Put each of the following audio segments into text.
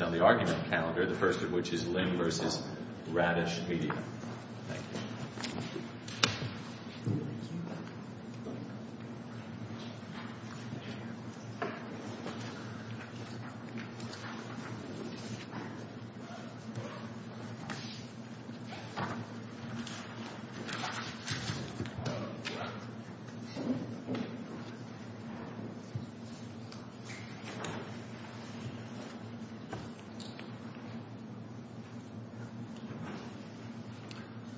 on the argument calendar, the first of which is Lynn v. Radish Media.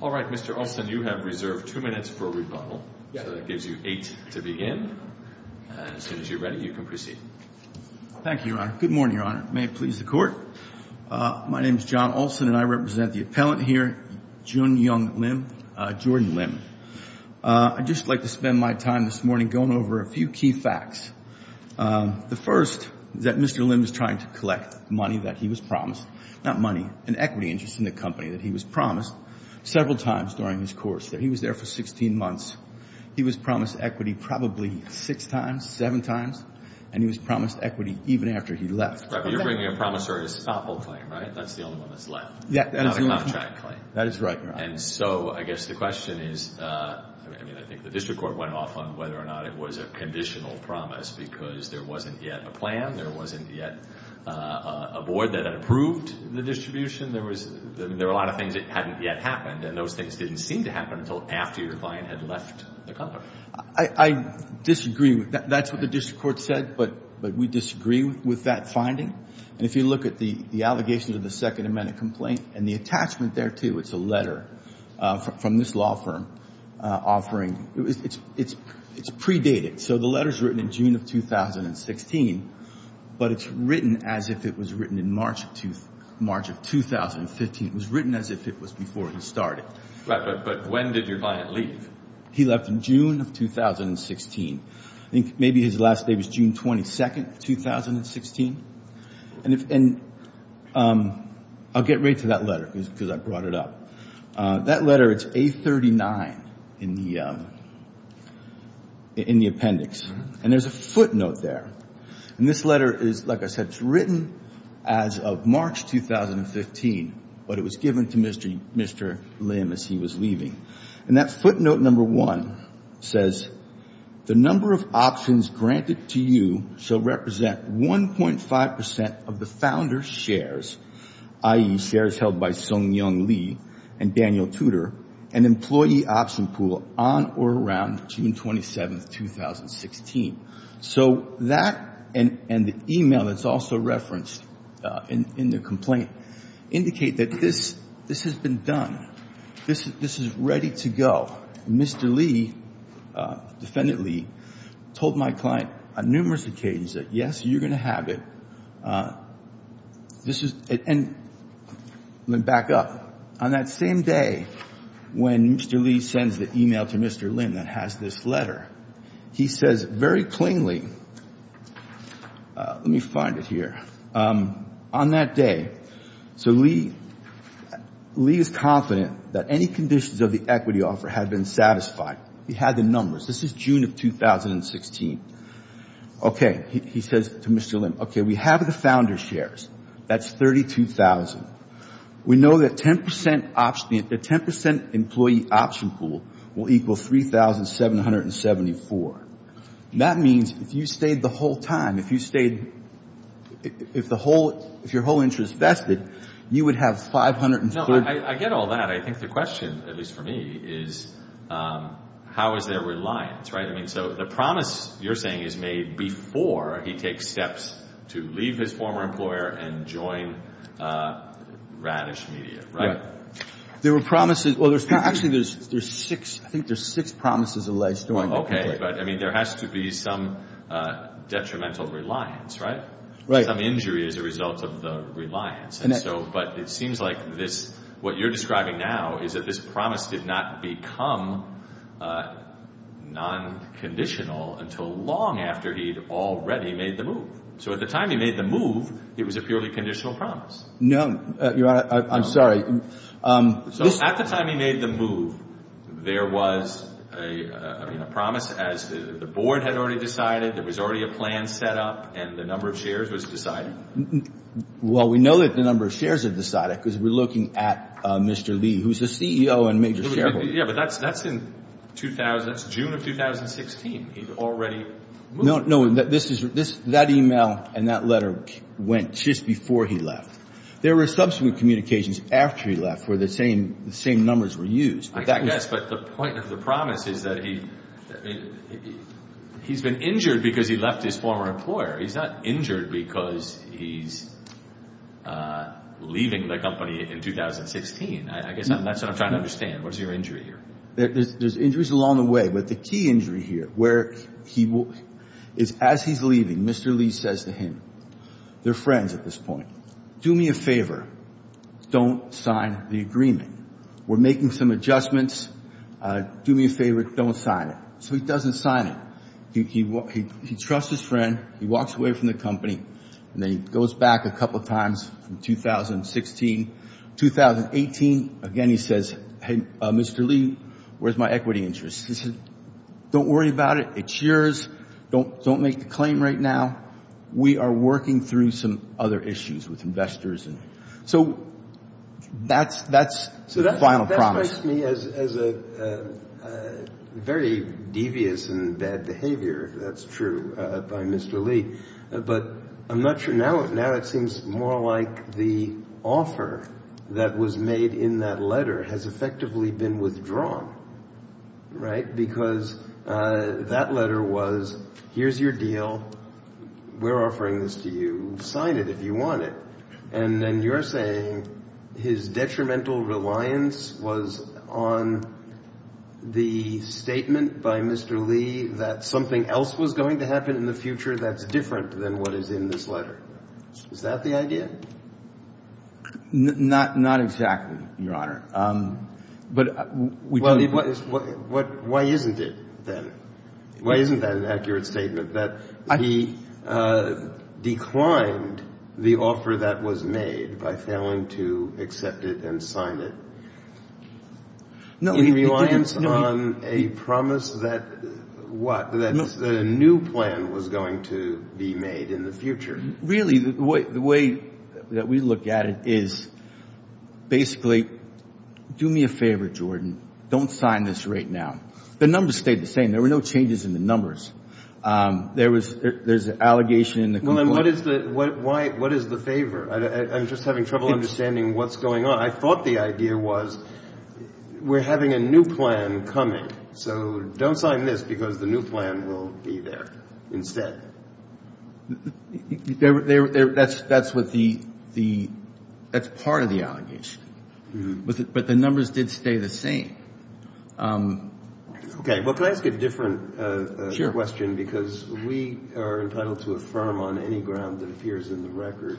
All right, Mr. Olson, you have reserved two minutes for a rebuttal, so that gives you eight to begin, and as soon as you're ready, you can proceed. Thank you, Your Honor. Good morning, Your Honor. May it please the Court? My name is John Olson, and I represent the appellant here, Joon Young Lim, Jordan Lim. I'd just like to spend my time this morning going over a few key facts. The first is that Mr. Lim is trying to collect money that he was promised, not money, an equity interest in the company that he was promised several times during his course, that he was there for 16 months. He was promised equity probably six times, seven times, and he was promised equity even after he left. But you're bringing a promissory stop-hold claim, right? That's the only one that's left? Yeah, that is the only one. Not a contract claim? That is right, Your Honor. And so I guess the question is, I mean, I think the District Court went off on whether or not it was a conditional promise because there wasn't yet a plan, there wasn't yet a board that approved the distribution. There were a lot of things that hadn't yet happened, and those things didn't seem to happen until after your client had left the company. I disagree. That's what the District Court said, but we disagree with that finding. And if you look at the allegations of the Second Amendment complaint and the attachment there, from this law firm offering, it's predated. So the letter's written in June of 2016, but it's written as if it was written in March of 2015. It was written as if it was before he started. Right, but when did your client leave? He left in June of 2016. I think maybe his last day was June 22, 2016. And I'll get right to that letter because I brought it up. That letter, it's A39 in the appendix. And there's a footnote there. And this letter is, like I said, it's written as of March 2015, but it was given to Mr. Lim as he was leaving. And that footnote number one says, the number of options granted to you shall represent 1.5% of the founder's shares, i.e. shares held by Sung Young Lee and Daniel Tudor, and employee option pool on or around June 27, 2016. So that and the email that's also referenced in the complaint indicate that this has been done. This is ready to go. Mr. Lee, Defendant Lee, told my client on numerous occasions that, yes, you're going to have it. This is, and back up. On that same day when Mr. Lee sends the email to Mr. Lim that has this letter, he says very plainly, let me find it here. On that day, so Lee is confident that any conditions of the equity offer had been satisfied. He had the numbers. This is June of 2016. Okay. He says to Mr. Lim, okay, we have the founder's shares. That's 32,000. We know that 10% employee option pool will equal 3,774. That means if you stayed the whole time, if you stayed, if your whole interest vested, you would have 540. No, I get all that. I think the question, at least for me, is how is there reliance, right? I mean, so the promise you're saying is made before he takes steps to leave his former employer and join Radish Media, right? There were promises, well, there's Actually, there's six. I think there's six promises in the legislature. Okay. But I mean, there has to be some detrimental reliance, right? Some injury is a result of the reliance. And so, but it seems like this, what you're describing now is that this promise did not become non-conditional until long after he'd already made the move. So at the time he made the move, it was a purely conditional promise. No, Your Honor, I'm sorry. So at the time he made the move, there was a promise as the board had already decided, there was already a plan set up, and the number of shares was decided? Well, we know that the number of shares are decided because we're looking at Mr. Lee, who's the CEO and major shareholder. Yeah, but that's in 2000, it's June of 2016. He'd already moved. No, that email and that letter went just before he left. There were subsequent communications after he left where the same numbers were used. I guess, but the point of the promise is that he's been injured because he left his former employer. He's not injured because he's leaving the company in 2016. I guess that's what I'm trying to understand. What's your injury here? There's injuries along the way, but the key injury here is as he's leaving, Mr. Lee says to him, they're friends at this point, do me a favor, don't sign the agreement. We're making some adjustments, do me a favor, don't sign it. So he doesn't sign it. He trusts his friend, he walks away from the company, and then he goes back a couple of times in 2016. 2018, again, he says, hey, Mr. Lee, where's my equity interest? He says, don't worry about it, it's yours, don't make the claim right now. We are working through some other issues with investors. So that's the final promise. That strikes me as a very devious and bad behavior, if that's true, by Mr. Lee. But I'm not sure, now it seems more like the offer that was made in that letter has effectively been withdrawn, right? Because that letter was, here's your deal, we're offering this to you, sign it if you want it. And then you're saying his detrimental reliance was on the statement by Mr. Lee that something else was going to happen in the future that's different than what is in this letter. Is that the idea? Not exactly, Your Honor. Why isn't it, then? Why isn't that an accurate statement, that he declined the offer that was made by failing to accept it and sign it in reliance on a promise that a new plan was going to be made in the future? Really, the way that we look at it is, basically, do me a favor, Jordan, don't sign this right now. The numbers stayed the same, there were no changes in the numbers. There's an allegation in the complaint. What is the favor? I'm just having trouble understanding what's going on. I thought the idea was, we're having a new plan coming, so don't sign this because the new plan will be there instead. That's what the, that's part of the allegation. But the numbers did stay the same. Okay, well, can I ask a different question? Because we are entitled to affirm on any ground that appears in the record.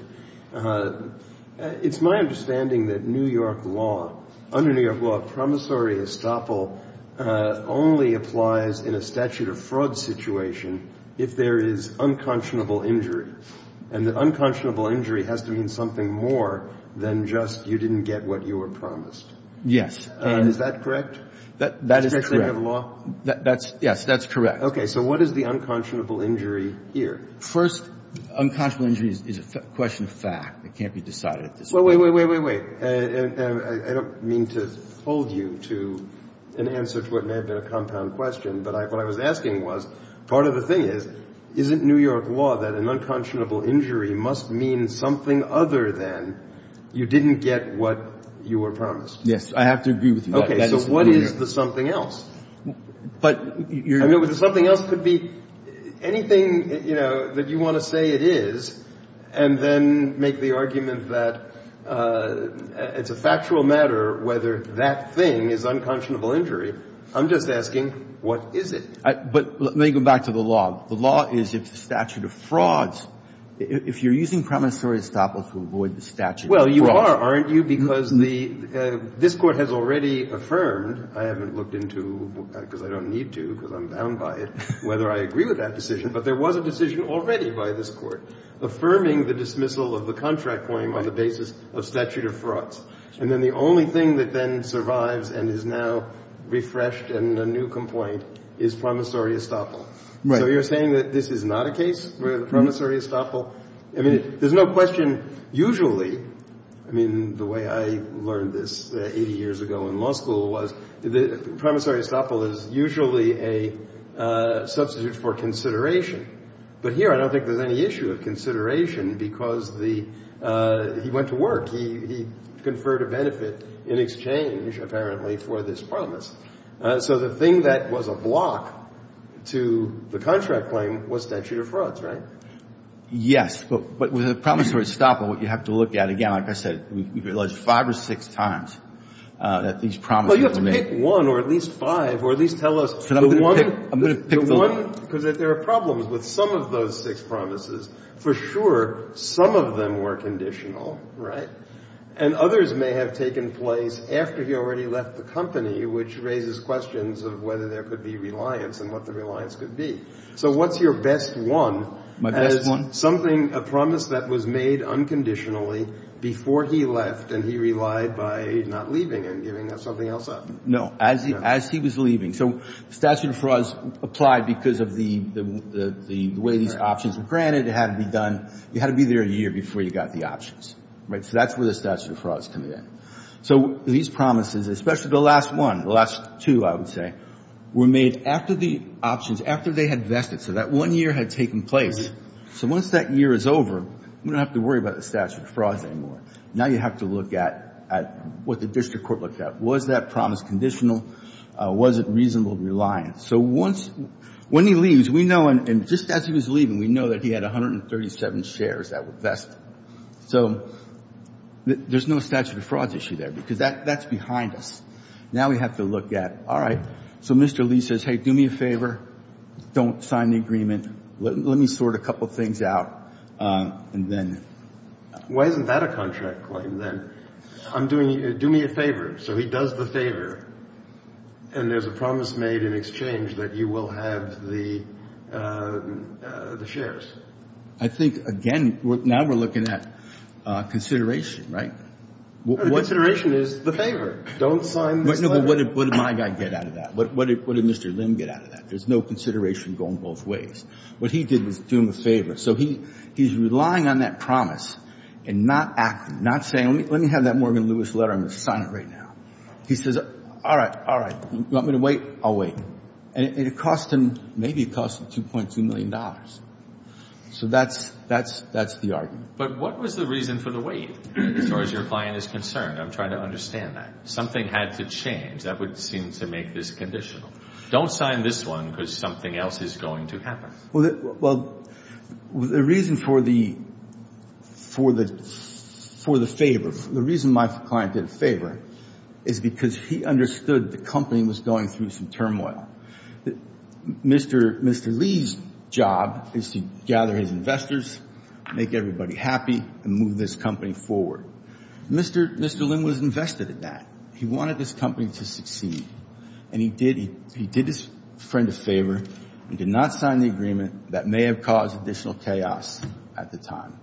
It's my understanding that New York law, under New York law, promissory estoppel only applies in a statute of fraud situation if there is unconscionable injury. And the unconscionable injury has to mean something more than just you didn't get what you were promised. Yes. Is that correct? That is correct. That's correct. That's, yes, that's correct. Okay. So what is the unconscionable injury here? First, unconscionable injury is a question of fact. It can't be decided at this point. Wait, wait, wait, wait, wait. I don't mean to hold you to an answer to what may have been a compound question, but what I was asking was, part of the thing is, isn't New York law that an unconscionable injury must mean something other than you didn't get what you were promised? Yes, I have to agree with you on that. Okay, so what is the something else? But, I mean, the something else could be anything, you know, that you want to say it is, and then make the argument that it's a factual matter whether that thing is unconscionable injury. I'm just asking, what is it? But let me go back to the law. The law is it's a statute of frauds. If you're using promissory estoppel to avoid the statute of frauds. Well, you are, aren't you? Because this Court has already affirmed. I haven't looked into, because I don't need to, because I'm bound by it, whether I agree with that affirming the dismissal of the contract claim on the basis of statute of frauds. And then the only thing that then survives and is now refreshed in a new complaint is promissory estoppel. So you're saying that this is not a case where the promissory estoppel, I mean, there's no question, usually, I mean, the way I learned this 80 years ago in law school was promissory estoppel is usually a substitute for consideration. But here, I don't think there's any issue of consideration because the, he went to work, he conferred a benefit in exchange, apparently, for this promise. So the thing that was a block to the contract claim was statute of frauds, right? Yes, but with a promissory estoppel, what you have to look at, again, like I said, we've alleged five or six times that these promises were made. Well, you have to pick one or at least five or at least tell us. I'm going to pick the one because there are problems with some of those six promises. For sure, some of them were conditional, right? And others may have taken place after he already left the company, which raises questions of whether there could be reliance and what the reliance could be. So what's your best one? My best one? Something, a promise that was made unconditionally before he left and he relied by not leaving and giving something else up. No, as he was leaving. So statute of frauds applied because of the way these options were granted. It had to be done. You had to be there a year before you got the options, right? So that's where the statute of frauds come in. So these promises, especially the last one, the last two, I would say, were made after the options, after they had vested. So that one year had taken place. So once that year is over, we don't have to worry about the statute of frauds anymore. Now you have to look at what the district court looked at. Was that promise conditional? Was it reasonable reliance? So once — when he leaves, we know, and just as he was leaving, we know that he had 137 shares that were vested. So there's no statute of frauds issue there because that's behind us. Now we have to look at, all right, so Mr. Lee says, hey, do me a favor, don't sign the agreement, let me sort a couple things out, and then — I'm doing — do me a favor. So he does the favor, and there's a promise made in exchange that you will have the shares. I think, again, now we're looking at consideration, right? Consideration is the favor. Don't sign this letter. No, but what did my guy get out of that? What did Mr. Lim get out of that? There's no consideration going both ways. What he did was do him a favor. So he's relying on that promise and not acting, not saying, let me have that Morgan Lewis letter, I'm going to sign it right now. He says, all right, all right, you want me to wait, I'll wait. And it cost him — maybe it cost him $2.2 million. So that's — that's — that's the argument. But what was the reason for the wait, as far as your client is concerned? I'm trying to understand that. Something had to change. That would seem to make this conditional. Don't sign this one because something else is going to happen. Well, the reason for the — for the favor, the reason my client did a favor is because he understood the company was going through some turmoil. Mr. Lee's job is to gather his investors, make everybody happy, and move this company forward. Mr. Lim was invested in that. He wanted his company to succeed. And he did — he did his friend a favor and did not sign the agreement that may have caused additional chaos at the time.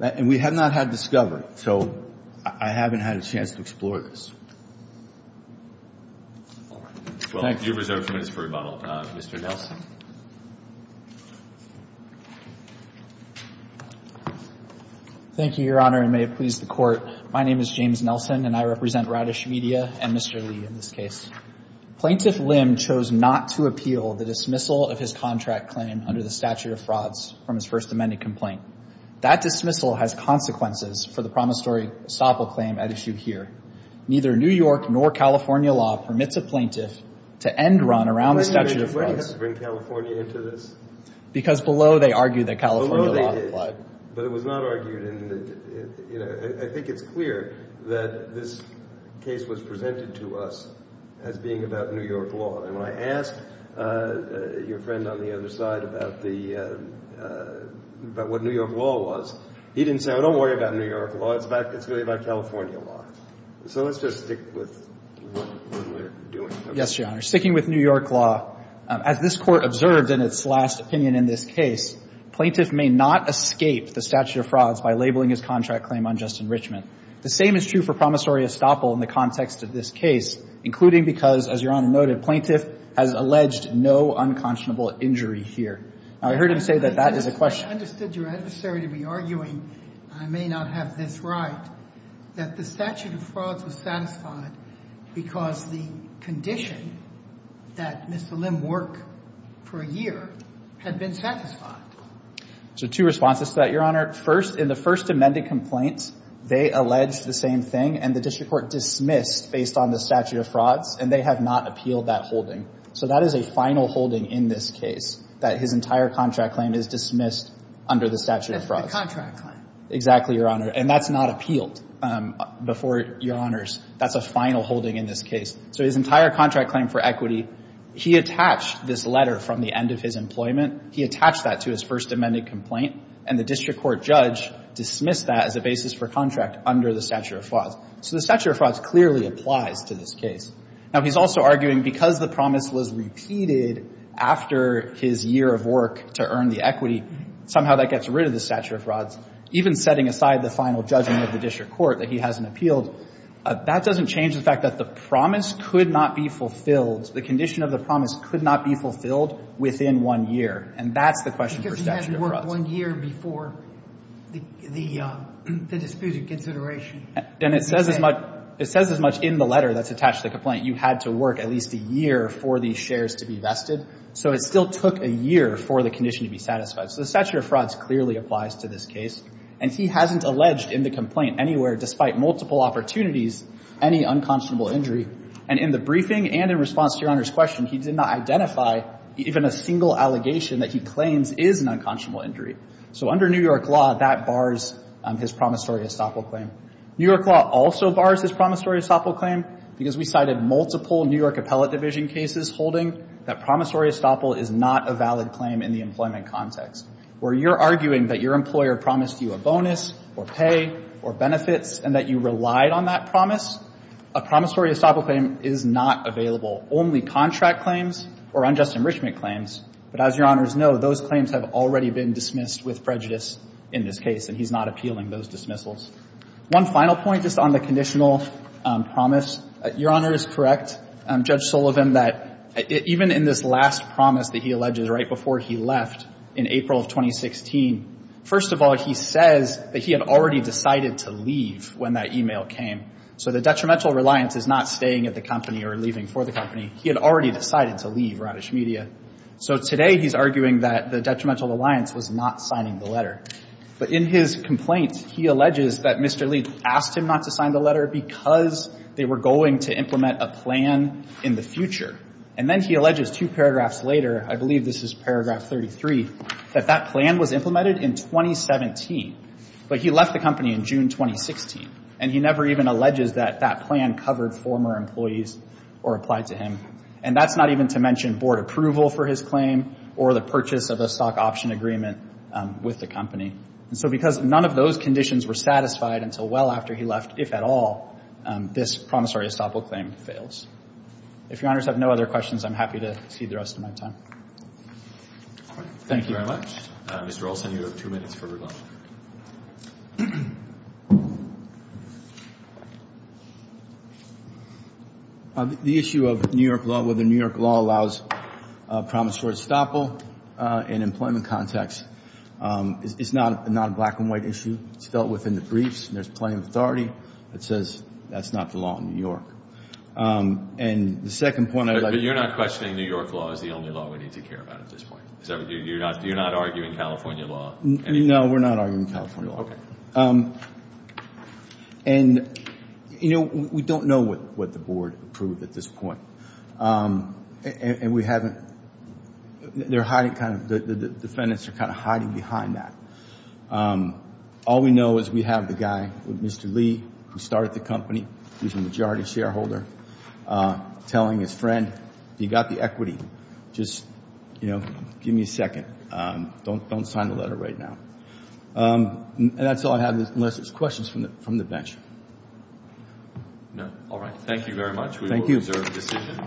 And we have not had discovery, so I haven't had a chance to explore this. Well, you're reserved for minutes for rebuttal. Mr. Nelson. Thank you, Your Honor, and may it please the Court. My name is James Nelson, and I represent Radish Media and Mr. Lee in this case. Plaintiff Lim chose not to appeal the dismissal of his contract claim under the statute of frauds from his first amended complaint. That dismissal has consequences for the promissory estoppel claim at issue here. Neither New York nor California law permits a plaintiff to end run around the statute of frauds. Wait a minute. Why do you have to bring California into this? Because below they argue that California law applied. But it was not argued in the — you know, I think it's clear that this case was presented to us as being about New York law. And when I asked your friend on the other side about the — about what New York law was, he didn't say, oh, don't worry about New York law. It's really about California law. So let's just stick with what we're doing. Yes, Your Honor. Sticking with New York law, as this Court observed in its last opinion in this case, plaintiff may not escape the statute of frauds by labeling his contract claim unjust enrichment. The same is true for promissory estoppel in the context of this case, including because, as Your Honor noted, plaintiff has alleged no unconscionable injury here. Now, I heard him say that that is a question — I understood your adversary to be arguing — I may not have this right — that the statute of frauds was satisfied because the condition that Mr. Lim work for a year had been satisfied. So two responses to that, Your Honor. First, in the first amended complaint, they alleged the same thing, and the district court dismissed based on the statute of frauds, and they have not appealed that holding. So that is a final holding in this case, that his entire contract claim is dismissed under the statute of frauds. The contract claim. Exactly, Your Honor. And that's not appealed before, Your Honors. That's a final holding in this case. So his entire contract claim for equity, he attached this letter from the end of his employment, he attached that to his first amended complaint, and the district court judge dismissed that as a basis for contract under the statute of frauds. So the statute of frauds clearly applies to this case. Now, he's also arguing because the promise was repeated after his year of work to earn the equity, somehow that gets rid of the statute of frauds, even setting aside the final judgment of the district court that he hasn't appealed. That doesn't change the fact that the promise could not be fulfilled, the condition of the promise could not be fulfilled within one year. And that's the question for statute of frauds. Because he hadn't worked one year before the disputed consideration. And it says as much in the letter that's attached to the complaint, you had to work at least a year for these shares to be vested. So it still took a year for the condition to be satisfied. So the statute of frauds clearly applies to this case. And he hasn't alleged in the complaint anywhere, despite multiple opportunities, any unconscionable injury. And in the briefing and in response to Your Honor's question, he did not identify even a single allegation that he claims is an unconscionable injury. So under New York law, that bars his promissory estoppel claim. New York law also bars his promissory estoppel claim because we cited multiple New York appellate division cases holding that promissory estoppel is not a valid claim in the employment context, where you're arguing that your employer promised you a bonus or pay or benefits and that you relied on that promise. A promissory estoppel claim is not available. Only contract claims or unjust enrichment claims. But as Your Honors know, those claims have already been dismissed with prejudice in this case, and he's not appealing those dismissals. One final point just on the conditional promise. Your Honor is correct, Judge Sullivan, that even in this last promise that he alleges right before he left in April of 2016, first of all, he says that he had already decided to leave when that e-mail came. So the detrimental reliance is not staying at the company or leaving for the company. He had already decided to leave Radish Media. So today, he's arguing that the detrimental reliance was not signing the letter. But in his complaint, he alleges that Mr. Lee asked him not to sign the letter because they were going to implement a plan in the future. And then he alleges two paragraphs later, I believe this is paragraph 33, that that plan was implemented in 2017. But he left the company in June 2016, and he never even alleges that that plan covered former employees or applied to him. And that's not even to mention board approval for his claim or the purchase of a stock option agreement with the company. And so because none of those conditions were satisfied until well after he left, if at all, this promissory estoppel claim fails. If Your Honors have no other questions, I'm happy to cede the rest of my time. Thank you very much. Mr. Olson, you have two minutes for rebuttal. The issue of New York law, whether New York law allows promissory estoppel in employment context, it's not a black and white issue. It's dealt with in the briefs. There's plenty of authority that says that's not the law in New York. And the second point I'd like to... You're not questioning New York law as the only law we need to care about at this point? You're not arguing California law? No, we're not arguing California law. Okay. And, you know, we don't know what the board approved at this point. And we haven't, they're hiding, kind of, the defendants are kind of hiding behind that. All we know is we have the guy, Mr. Lee, who is telling his friend, you got the equity. Just, you know, give me a second. Don't sign the letter right now. And that's all I have, unless there's questions from the bench. No. All right. Thank you very much. Thank you. We will reserve the decision.